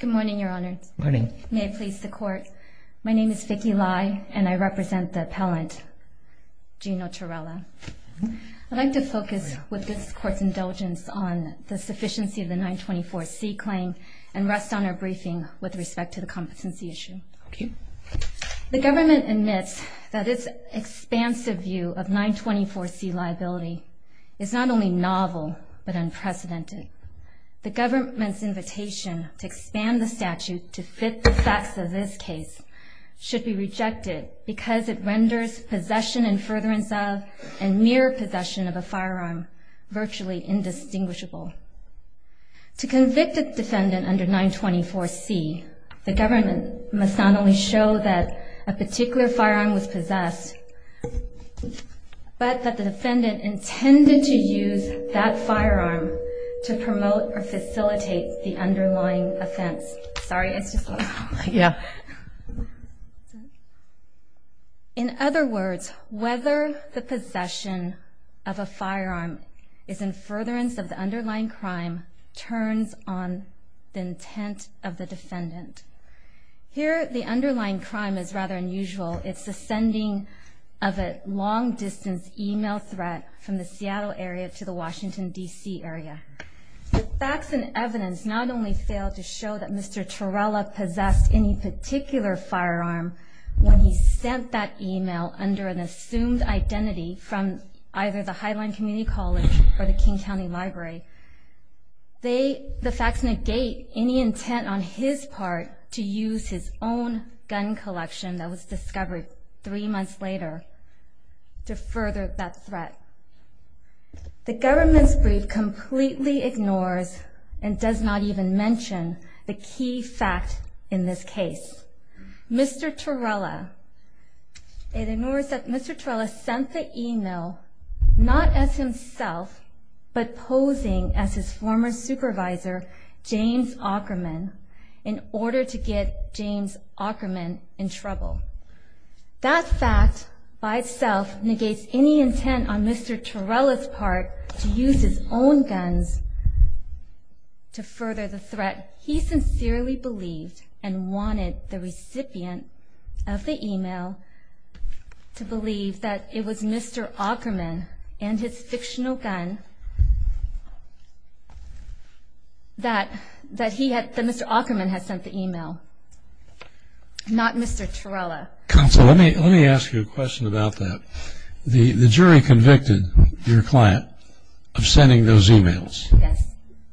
Good morning, your honor. Morning. May it please the court. My name is Vicky Lai and I represent the appellant, Gino Turrella. I'd like to focus with this court's indulgence on the sufficiency of the 924C claim and rest on our briefing with respect to the competency issue. The government admits that its expansive view of 924C liability is not only novel but unprecedented. The government's invitation to expand the statute to fit the facts of this case should be rejected because it renders possession and furtherance of and mere possession of a firearm virtually indistinguishable. To convict a defendant under 924C, the government must not only show that a particular firearm was possessed but that the defendant intended to use that firearm to promote or facilitate the underlying offense. In other words, whether the possession of a firearm is in furtherance of the underlying crime turns on the intent of the defendant. Here, the underlying crime is rather unusual. It's the sending of a long-distance email threat from the Seattle area to the Washington, D.C. area. The facts and evidence not only fail to show that Mr. Turrella possessed any particular firearm when he sent that email under an assumed identity from either the Highline Community College or the King County Library. The facts negate any intent on his part to use his own gun collection that was discovered three months later to further that threat. The government's brief completely ignores and does not even mention the key fact in this case. Mr. Turrella, it ignores that Mr. Turrella sent the email not as himself but posing as his former supervisor, James Ackerman, in order to get James Ackerman in trouble. That fact by itself negates any intent on Mr. Turrella's part to use his own guns to further the threat he sincerely believed and wanted the recipient of the email to believe that it was Mr. Ackerman and his fictional gun that Mr. Ackerman had sent the email, not Mr. Turrella. Counsel, let me ask you a question about that. The jury convicted your client of sending those emails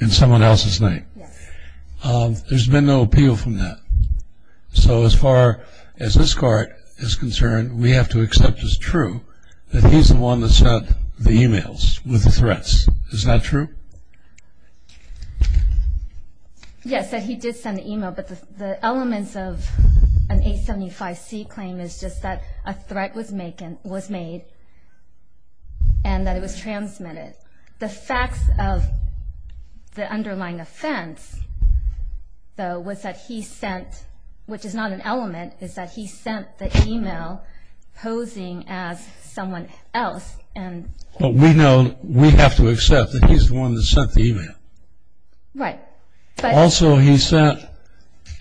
in someone else's name. Yes. There's been no appeal from that. So as far as this court is concerned, we have to accept as true that he's the one that sent the emails with the threats. Is that true? Yes, that he did send the email, but the elements of an 875C claim is just that a threat was made and that it was transmitted. The facts of the underlying offense, though, was that he sent, which is not an element, is that he sent the email posing as someone else. But we know we have to accept that he's the one that sent the email. Right. Also, he sent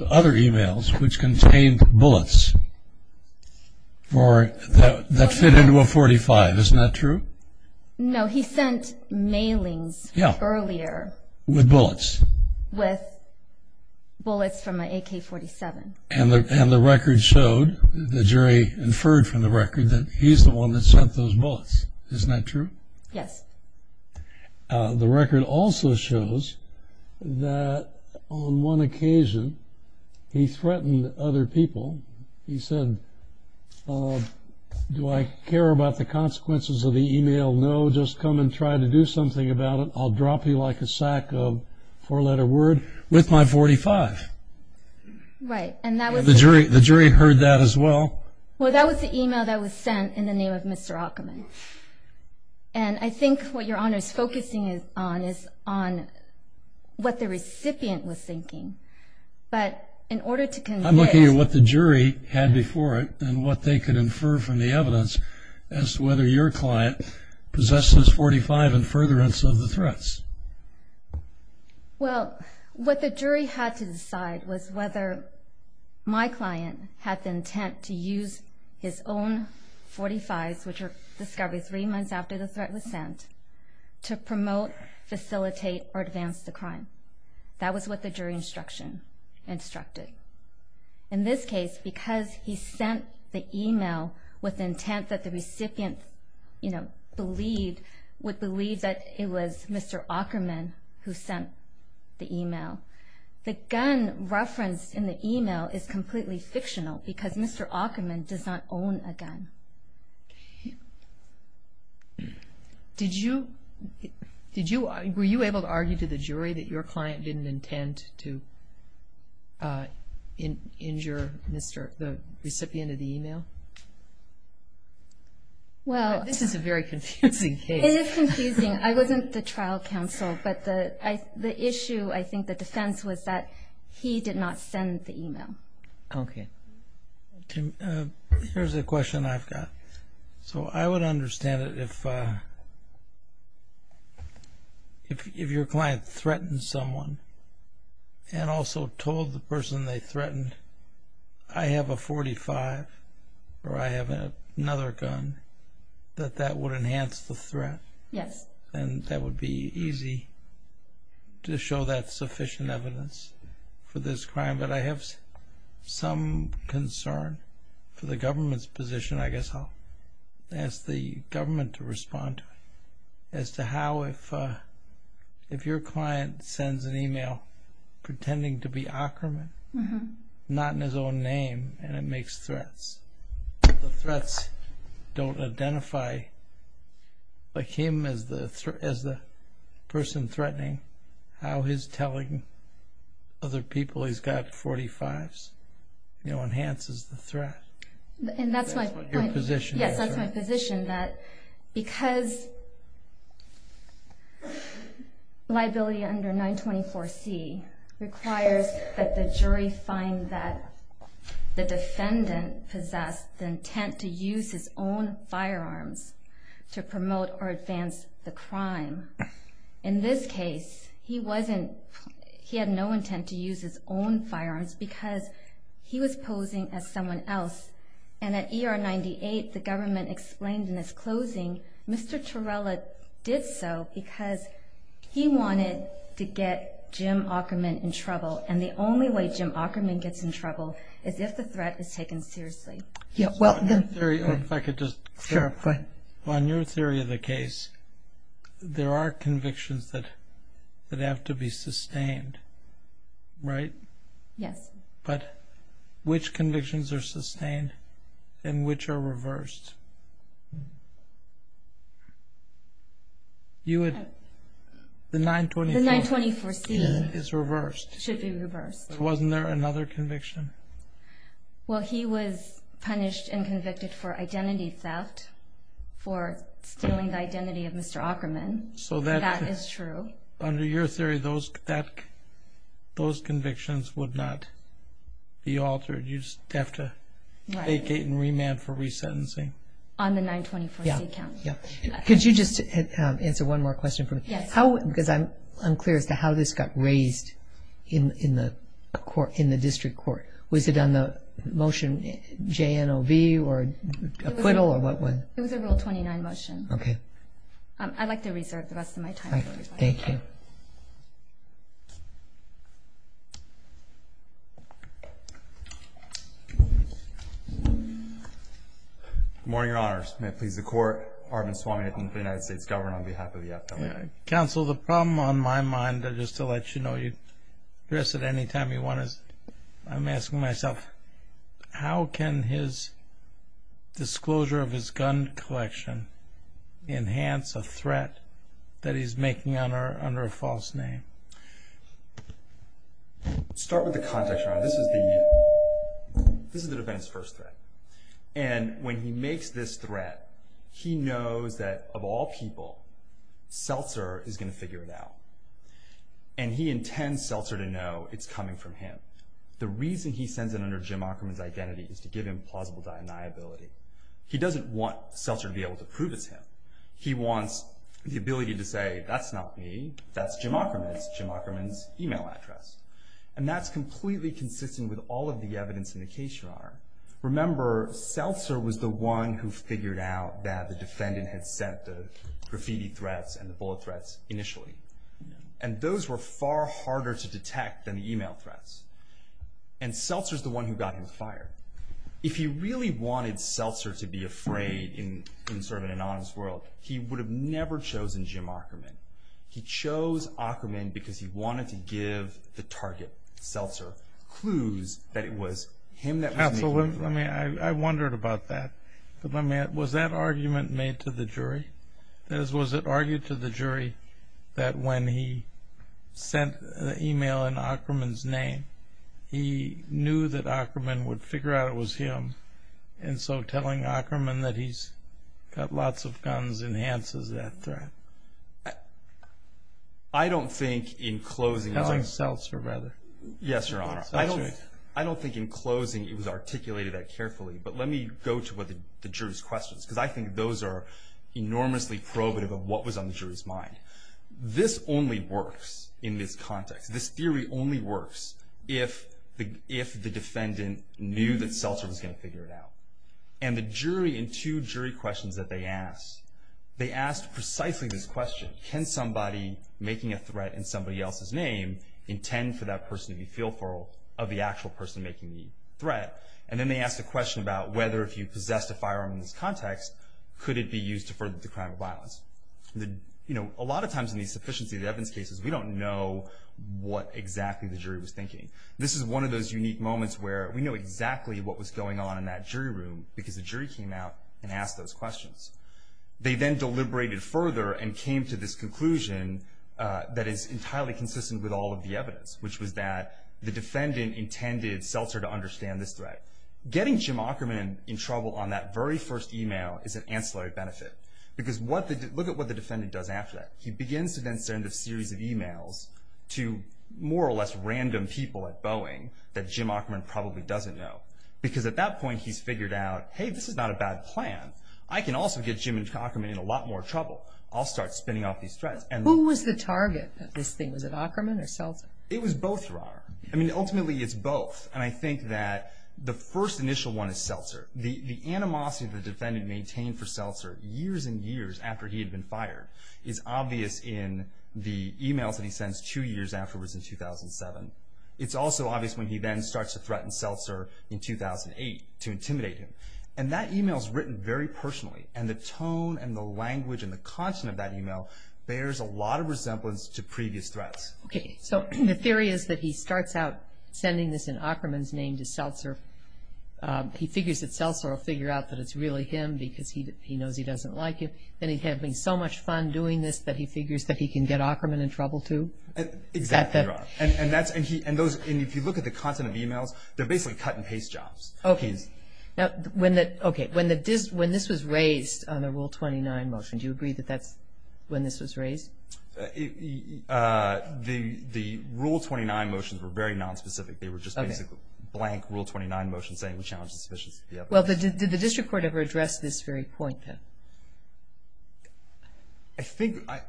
other emails which contained bullets that fit into a .45. Isn't that true? No, he sent mailings earlier. With bullets? With bullets from an AK-47. And the record showed, the jury inferred from the record, that he's the one that sent those bullets. Isn't that true? Yes. The record also shows that on one occasion he threatened other people. He said, do I care about the consequences of the email? No, just come and try to do something about it. I'll drop you like a sack of four-letter word with my .45. Right. The jury heard that as well. Well, that was the email that was sent in the name of Mr. Ackerman. And I think what Your Honor is focusing on is on what the recipient was thinking. But in order to convince – I'm looking at what the jury had before it and what they could infer from the evidence as to whether your client possesses .45 in furtherance of the threats. Well, what the jury had to decide was whether my client had the intent to use his own .45s, which were discovered three months after the threat was sent, to promote, facilitate, or advance the crime. That was what the jury instruction instructed. In this case, because he sent the email with the intent that the recipient would believe that it was Mr. Ackerman who sent the email, the gun referenced in the email is completely fictional because Mr. Ackerman does not own a gun. Were you able to argue to the jury that your client didn't intend to injure the recipient of the email? This is a very confusing case. It is confusing. I wasn't the trial counsel, but the issue, I think, the defense was that he did not send the email. Okay. Here's a question I've got. So I would understand it if your client threatened someone and also told the person they threatened, I have a .45 or I have another gun, that that would enhance the threat. Yes. And that would be easy to show that sufficient evidence for this crime. But I have some concern for the government's position. I guess I'll ask the government to respond to it as to how if your client sends an email pretending to be Ackerman, not in his own name, and it makes threats, the threats don't identify him as the person threatening, how his telling other people he's got .45s enhances the threat. And that's my point. Your position. Yes, that's my position, that because liability under 924C requires that the jury find that the defendant possessed the intent to use his own firearms to promote or advance the crime. In this case, he had no intent to use his own firearms because he was posing as someone else. And at ER 98, the government explained in its closing, Mr. Torella did so because he wanted to get Jim Ackerman in trouble. And the only way Jim Ackerman gets in trouble is if the threat is taken seriously. Yeah, well, the... If I could just... Sure, go ahead. On your theory of the case, there are convictions that have to be sustained, right? Yes. But which convictions are sustained and which are reversed? You would... The 924C is reversed. It should be reversed. Wasn't there another conviction? Well, he was punished and convicted for identity theft, for stealing the identity of Mr. Ackerman. So that... That is true. Under your theory, those convictions would not be altered. You'd just have to vacate and remand for resentencing. On the 924C count. Yeah, yeah. Could you just answer one more question for me? Yes. Because I'm unclear as to how this got raised in the district court. Was it on the motion JNOV or acquittal or what? It was a Rule 29 motion. Okay. I'd like to reserve the rest of my time. Thank you. Good morning, Your Honors. May it please the Court, Arvind Swaminathan of the United States Government on behalf of the FBI. Counsel, the problem on my mind, just to let you know, you address it any time you want. I'm asking myself, how can his disclosure of his gun collection enhance a threat that he's making under a false name? Start with the context, Your Honor. This is the defense's first threat. And when he makes this threat, he knows that, of all people, Seltzer is going to figure it out. And he intends Seltzer to know it's coming from him. The reason he sends it under Jim Ockerman's identity is to give him plausible deniability. He doesn't want Seltzer to be able to prove it's him. He wants the ability to say, that's not me, that's Jim Ockerman. It's Jim Ockerman's email address. And that's completely consistent with all of the evidence in the case, Your Honor. Remember, Seltzer was the one who figured out that the defendant had sent the graffiti threats and the bullet threats initially. And those were far harder to detect than the email threats. And Seltzer's the one who got him fired. If he really wanted Seltzer to be afraid in sort of an innocent world, he would have never chosen Jim Ockerman. He chose Ockerman because he wanted to give the target, Seltzer, clues that it was him that was making the threat. So I wondered about that. Was that argument made to the jury? Was it argued to the jury that when he sent the email in Ockerman's name, he knew that Ockerman would figure out it was him? And so telling Ockerman that he's got lots of guns enhances that threat? I don't think in closing… As in Seltzer, rather. Yes, Your Honor. I don't think in closing it was articulated that carefully. But let me go to what the jury's questions, because I think those are enormously probative of what was on the jury's mind. This only works in this context. This theory only works if the defendant knew that Seltzer was going to figure it out. And the jury in two jury questions that they asked, they asked precisely this question. Can somebody making a threat in somebody else's name intend for that person to be fearful of the actual person making the threat? And then they asked a question about whether if you possessed a firearm in this context, could it be used to further the crime of violence? You know, a lot of times in these sufficiency of evidence cases, we don't know what exactly the jury was thinking. This is one of those unique moments where we know exactly what was going on in that jury room because the jury came out and asked those questions. They then deliberated further and came to this conclusion that is entirely consistent with all of the evidence, which was that the defendant intended Seltzer to understand this threat. Getting Jim Ackerman in trouble on that very first email is an ancillary benefit. Because look at what the defendant does after that. He begins to then send a series of emails to more or less random people at Boeing that Jim Ackerman probably doesn't know. Because at that point, he's figured out, hey, this is not a bad plan. I can also get Jim Ackerman in a lot more trouble. I'll start spinning off these threats. Who was the target of this thing? Was it Ackerman or Seltzer? It was both, Rara. I mean, ultimately, it's both. And I think that the first initial one is Seltzer. The animosity the defendant maintained for Seltzer years and years after he had been fired is obvious in the emails that he sends two years afterwards in 2007. It's also obvious when he then starts to threaten Seltzer in 2008 to intimidate him. And that email is written very personally. And the tone and the language and the content of that email bears a lot of resemblance to previous threats. Okay. So the theory is that he starts out sending this in Ackerman's name to Seltzer. He figures that Seltzer will figure out that it's really him because he knows he doesn't like him. Then he's having so much fun doing this that he figures that he can get Ackerman in trouble, too. Exactly, Rara. And if you look at the content of emails, they're basically cut-and-paste jobs. Okay. Now, when this was raised on the Rule 29 motion, do you agree that that's when this was raised? The Rule 29 motions were very nonspecific. They were just basically blank Rule 29 motions saying we challenge the sufficiency of the application. Well, did the district court ever address this very point, then?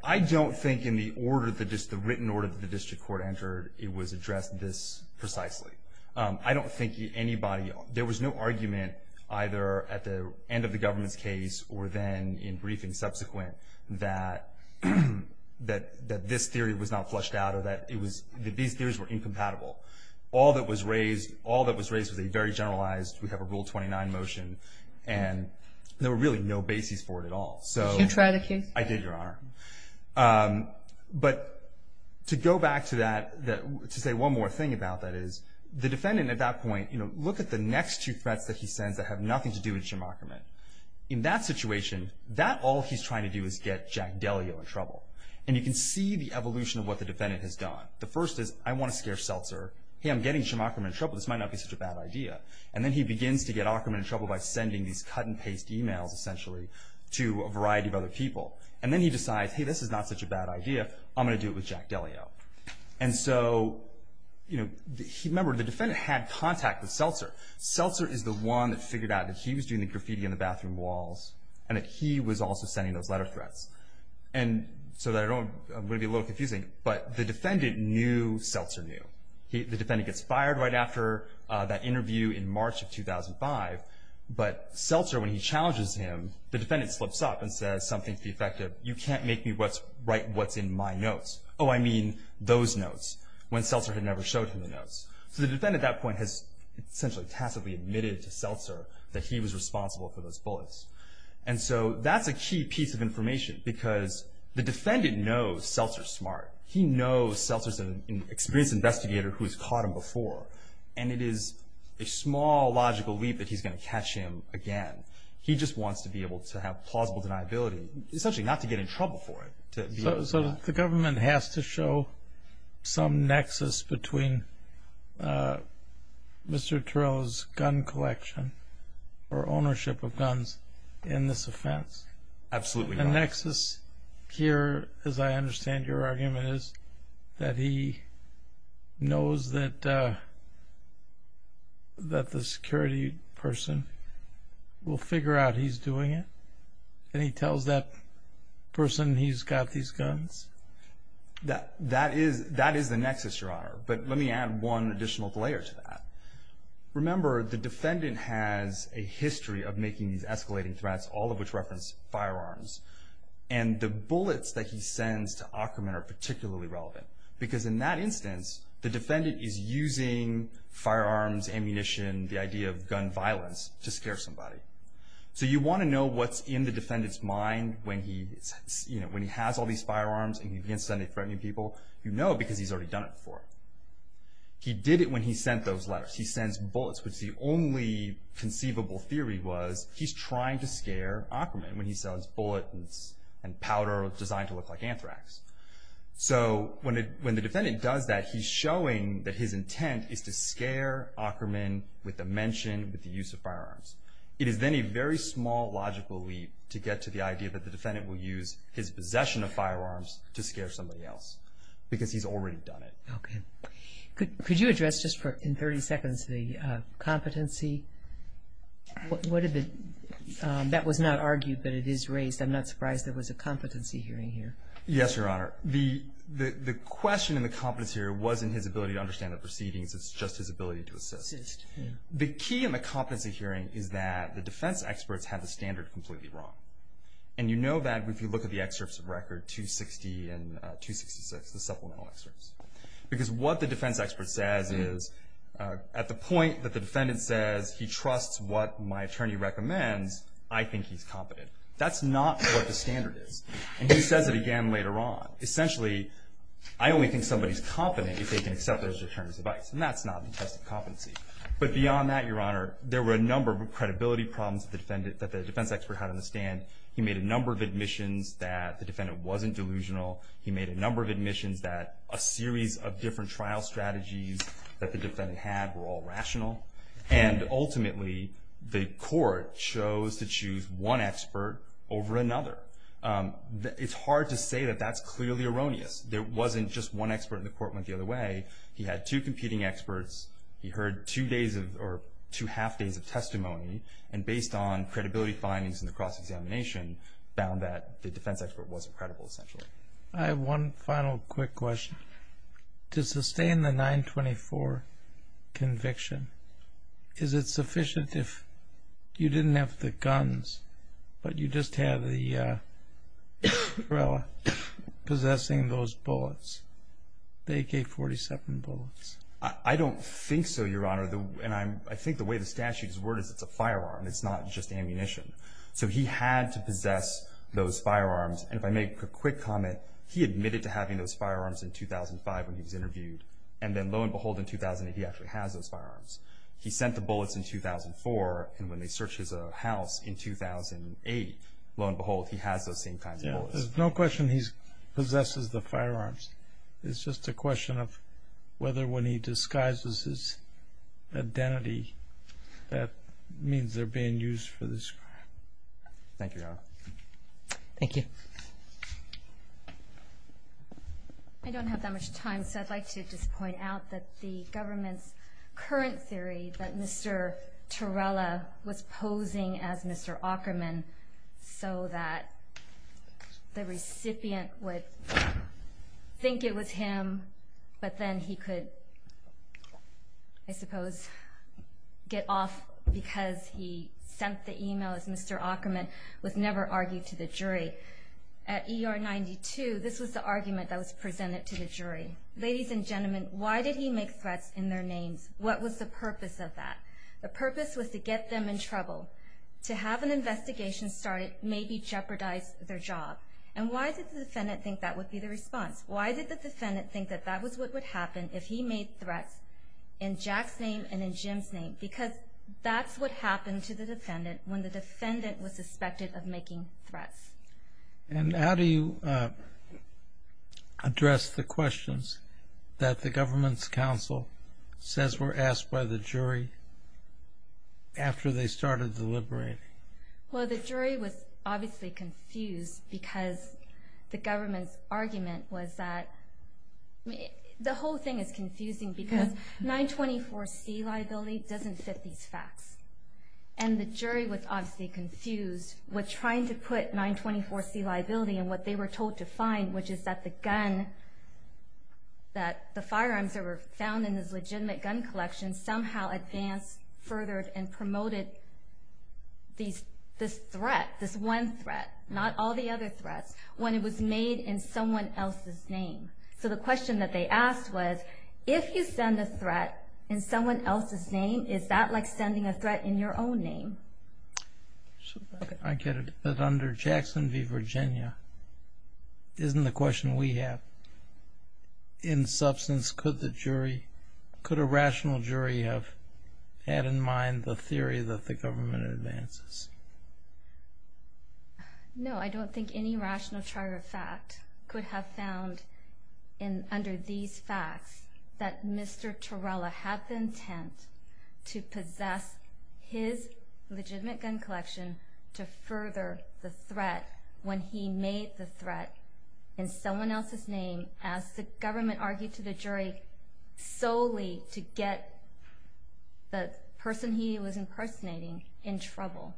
I don't think in the written order that the district court entered it was addressed this precisely. I don't think anybody – there was no argument either at the end of the government's case or then in briefings subsequent that this theory was not flushed out or that these theories were incompatible. All that was raised was a very generalized, we have a Rule 29 motion, and there were really no bases for it at all. Did you try the case? I did, Your Honor. But to go back to that, to say one more thing about that is the defendant at that point, look at the next two threats that he sends that have nothing to do with Shimokamon. In that situation, that all he's trying to do is get Jack Delio in trouble. And you can see the evolution of what the defendant has done. The first is, I want to scare Seltzer. Hey, I'm getting Shimokamon in trouble. This might not be such a bad idea. And then he begins to get Akerman in trouble by sending these cut-and-paste emails, essentially, to a variety of other people. And then he decides, hey, this is not such a bad idea. I'm going to do it with Jack Delio. And so, you know, remember, the defendant had contact with Seltzer. Seltzer is the one that figured out that he was doing the graffiti on the bathroom walls and that he was also sending those letter threats. And so I'm going to be a little confusing, but the defendant knew Seltzer knew. The defendant gets fired right after that interview in March of 2005, but Seltzer, when he challenges him, the defendant slips up and says something to the effect of, you can't make me write what's in my notes. Oh, I mean those notes, when Seltzer had never showed him the notes. So the defendant at that point has essentially tacitly admitted to Seltzer that he was responsible for those bullets. And so that's a key piece of information because the defendant knows Seltzer's smart. He knows Seltzer's an experienced investigator who has caught him before. And it is a small logical leap that he's going to catch him again. He just wants to be able to have plausible deniability, essentially not to get in trouble for it. So the government has to show some nexus between Mr. Torello's gun collection or ownership of guns in this offense. Absolutely not. The nexus here, as I understand your argument, is that he knows that the security person will figure out he's doing it, and he tells that person he's got these guns? That is the nexus, Your Honor. But let me add one additional layer to that. Remember, the defendant has a history of making these escalating threats, all of which reference firearms. And the bullets that he sends to Ackerman are particularly relevant because in that instance, the defendant is using firearms, ammunition, the idea of gun violence to scare somebody. So you want to know what's in the defendant's mind when he has all these firearms, and he begins sending threatening people. You know because he's already done it before. He did it when he sent those letters. He sends bullets, which the only conceivable theory was he's trying to scare Ackerman when he sends bullets and powder designed to look like anthrax. So when the defendant does that, he's showing that his intent is to scare Ackerman with the mention, with the use of firearms. It is then a very small logical leap to get to the idea that the defendant will use his possession of firearms to scare somebody else because he's already done it. Okay. Could you address just in 30 seconds the competency? That was not argued, but it is raised. I'm not surprised there was a competency hearing here. Yes, Your Honor. The question in the competency hearing wasn't his ability to understand the proceedings. It's just his ability to assist. The key in the competency hearing is that the defense experts have the standard completely wrong. And you know that if you look at the excerpts of record 260 and 266, the supplemental excerpts, because what the defense expert says is at the point that the defendant says he trusts what my attorney recommends, I think he's competent. That's not what the standard is. And he says it again later on. Essentially, I only think somebody's competent if they can accept their attorney's advice, and that's not the test of competency. But beyond that, Your Honor, there were a number of credibility problems that the defense expert had on the stand. He made a number of admissions that the defendant wasn't delusional. He made a number of admissions that a series of different trial strategies that the defendant had were all rational. And ultimately, the court chose to choose one expert over another. It's hard to say that that's clearly erroneous. There wasn't just one expert and the court went the other way. He had two competing experts. He heard two days or two half days of testimony, and based on credibility findings in the cross-examination, found that the defense expert wasn't credible essentially. I have one final quick question. To sustain the 924 conviction, is it sufficient if you didn't have the guns but you just have the gorilla possessing those bullets, the AK-47 bullets? I don't think so, Your Honor. And I think the way the statute is worded is it's a firearm. It's not just ammunition. So he had to possess those firearms. And if I make a quick comment, he admitted to having those firearms in 2005 when he was interviewed, and then lo and behold, in 2008, he actually has those firearms. He sent the bullets in 2004, and when they searched his house in 2008, lo and behold, he has those same kinds of bullets. There's no question he possesses the firearms. It's just a question of whether when he disguises his identity, that means they're being used for this crime. Thank you, Your Honor. Thank you. I don't have that much time, so I'd like to just point out that the government's current theory that Mr. Torella was posing as Mr. Ackerman so that the recipient would think it was him, but then he could, I suppose, get off because he sent the email as Mr. Ackerman was never argued to the jury. At ER-92, this was the argument that was presented to the jury. Ladies and gentlemen, why did he make threats in their names? What was the purpose of that? The purpose was to get them in trouble, to have an investigation started, maybe jeopardize their job. And why did the defendant think that would be the response? Why did the defendant think that that was what would happen if he made threats in Jack's name and in Jim's name? Because that's what happened to the defendant when the defendant was suspected of making threats. And how do you address the questions that the government's counsel says were asked by the jury after they started deliberating? Well, the jury was obviously confused because the government's argument was that the whole thing is confusing because 924C liability doesn't fit these facts. And the jury was obviously confused with trying to put 924C liability in what they were told to find, which is that the firearms that were found in this legitimate gun collection somehow advanced, furthered, and promoted this threat, this one threat, not all the other threats, when it was made in someone else's name. So the question that they asked was, if you send a threat in someone else's name, is that like sending a threat in your own name? I get it. But under Jackson v. Virginia, isn't the question we have, in substance, could a rational jury have had in mind the theory that the government advances? No, I don't think any rational jury of fact could have found under these facts that Mr. Torella had the intent to possess his legitimate gun collection to further the threat when he made the threat in someone else's name, as the government argued to the jury solely to get the person he was impersonating in trouble.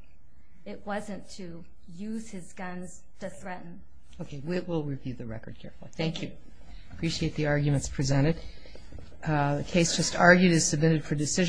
It wasn't to use his guns to threaten. Okay, we'll review the record carefully. Thank you. Appreciate the arguments presented. The case just argued is submitted for decision.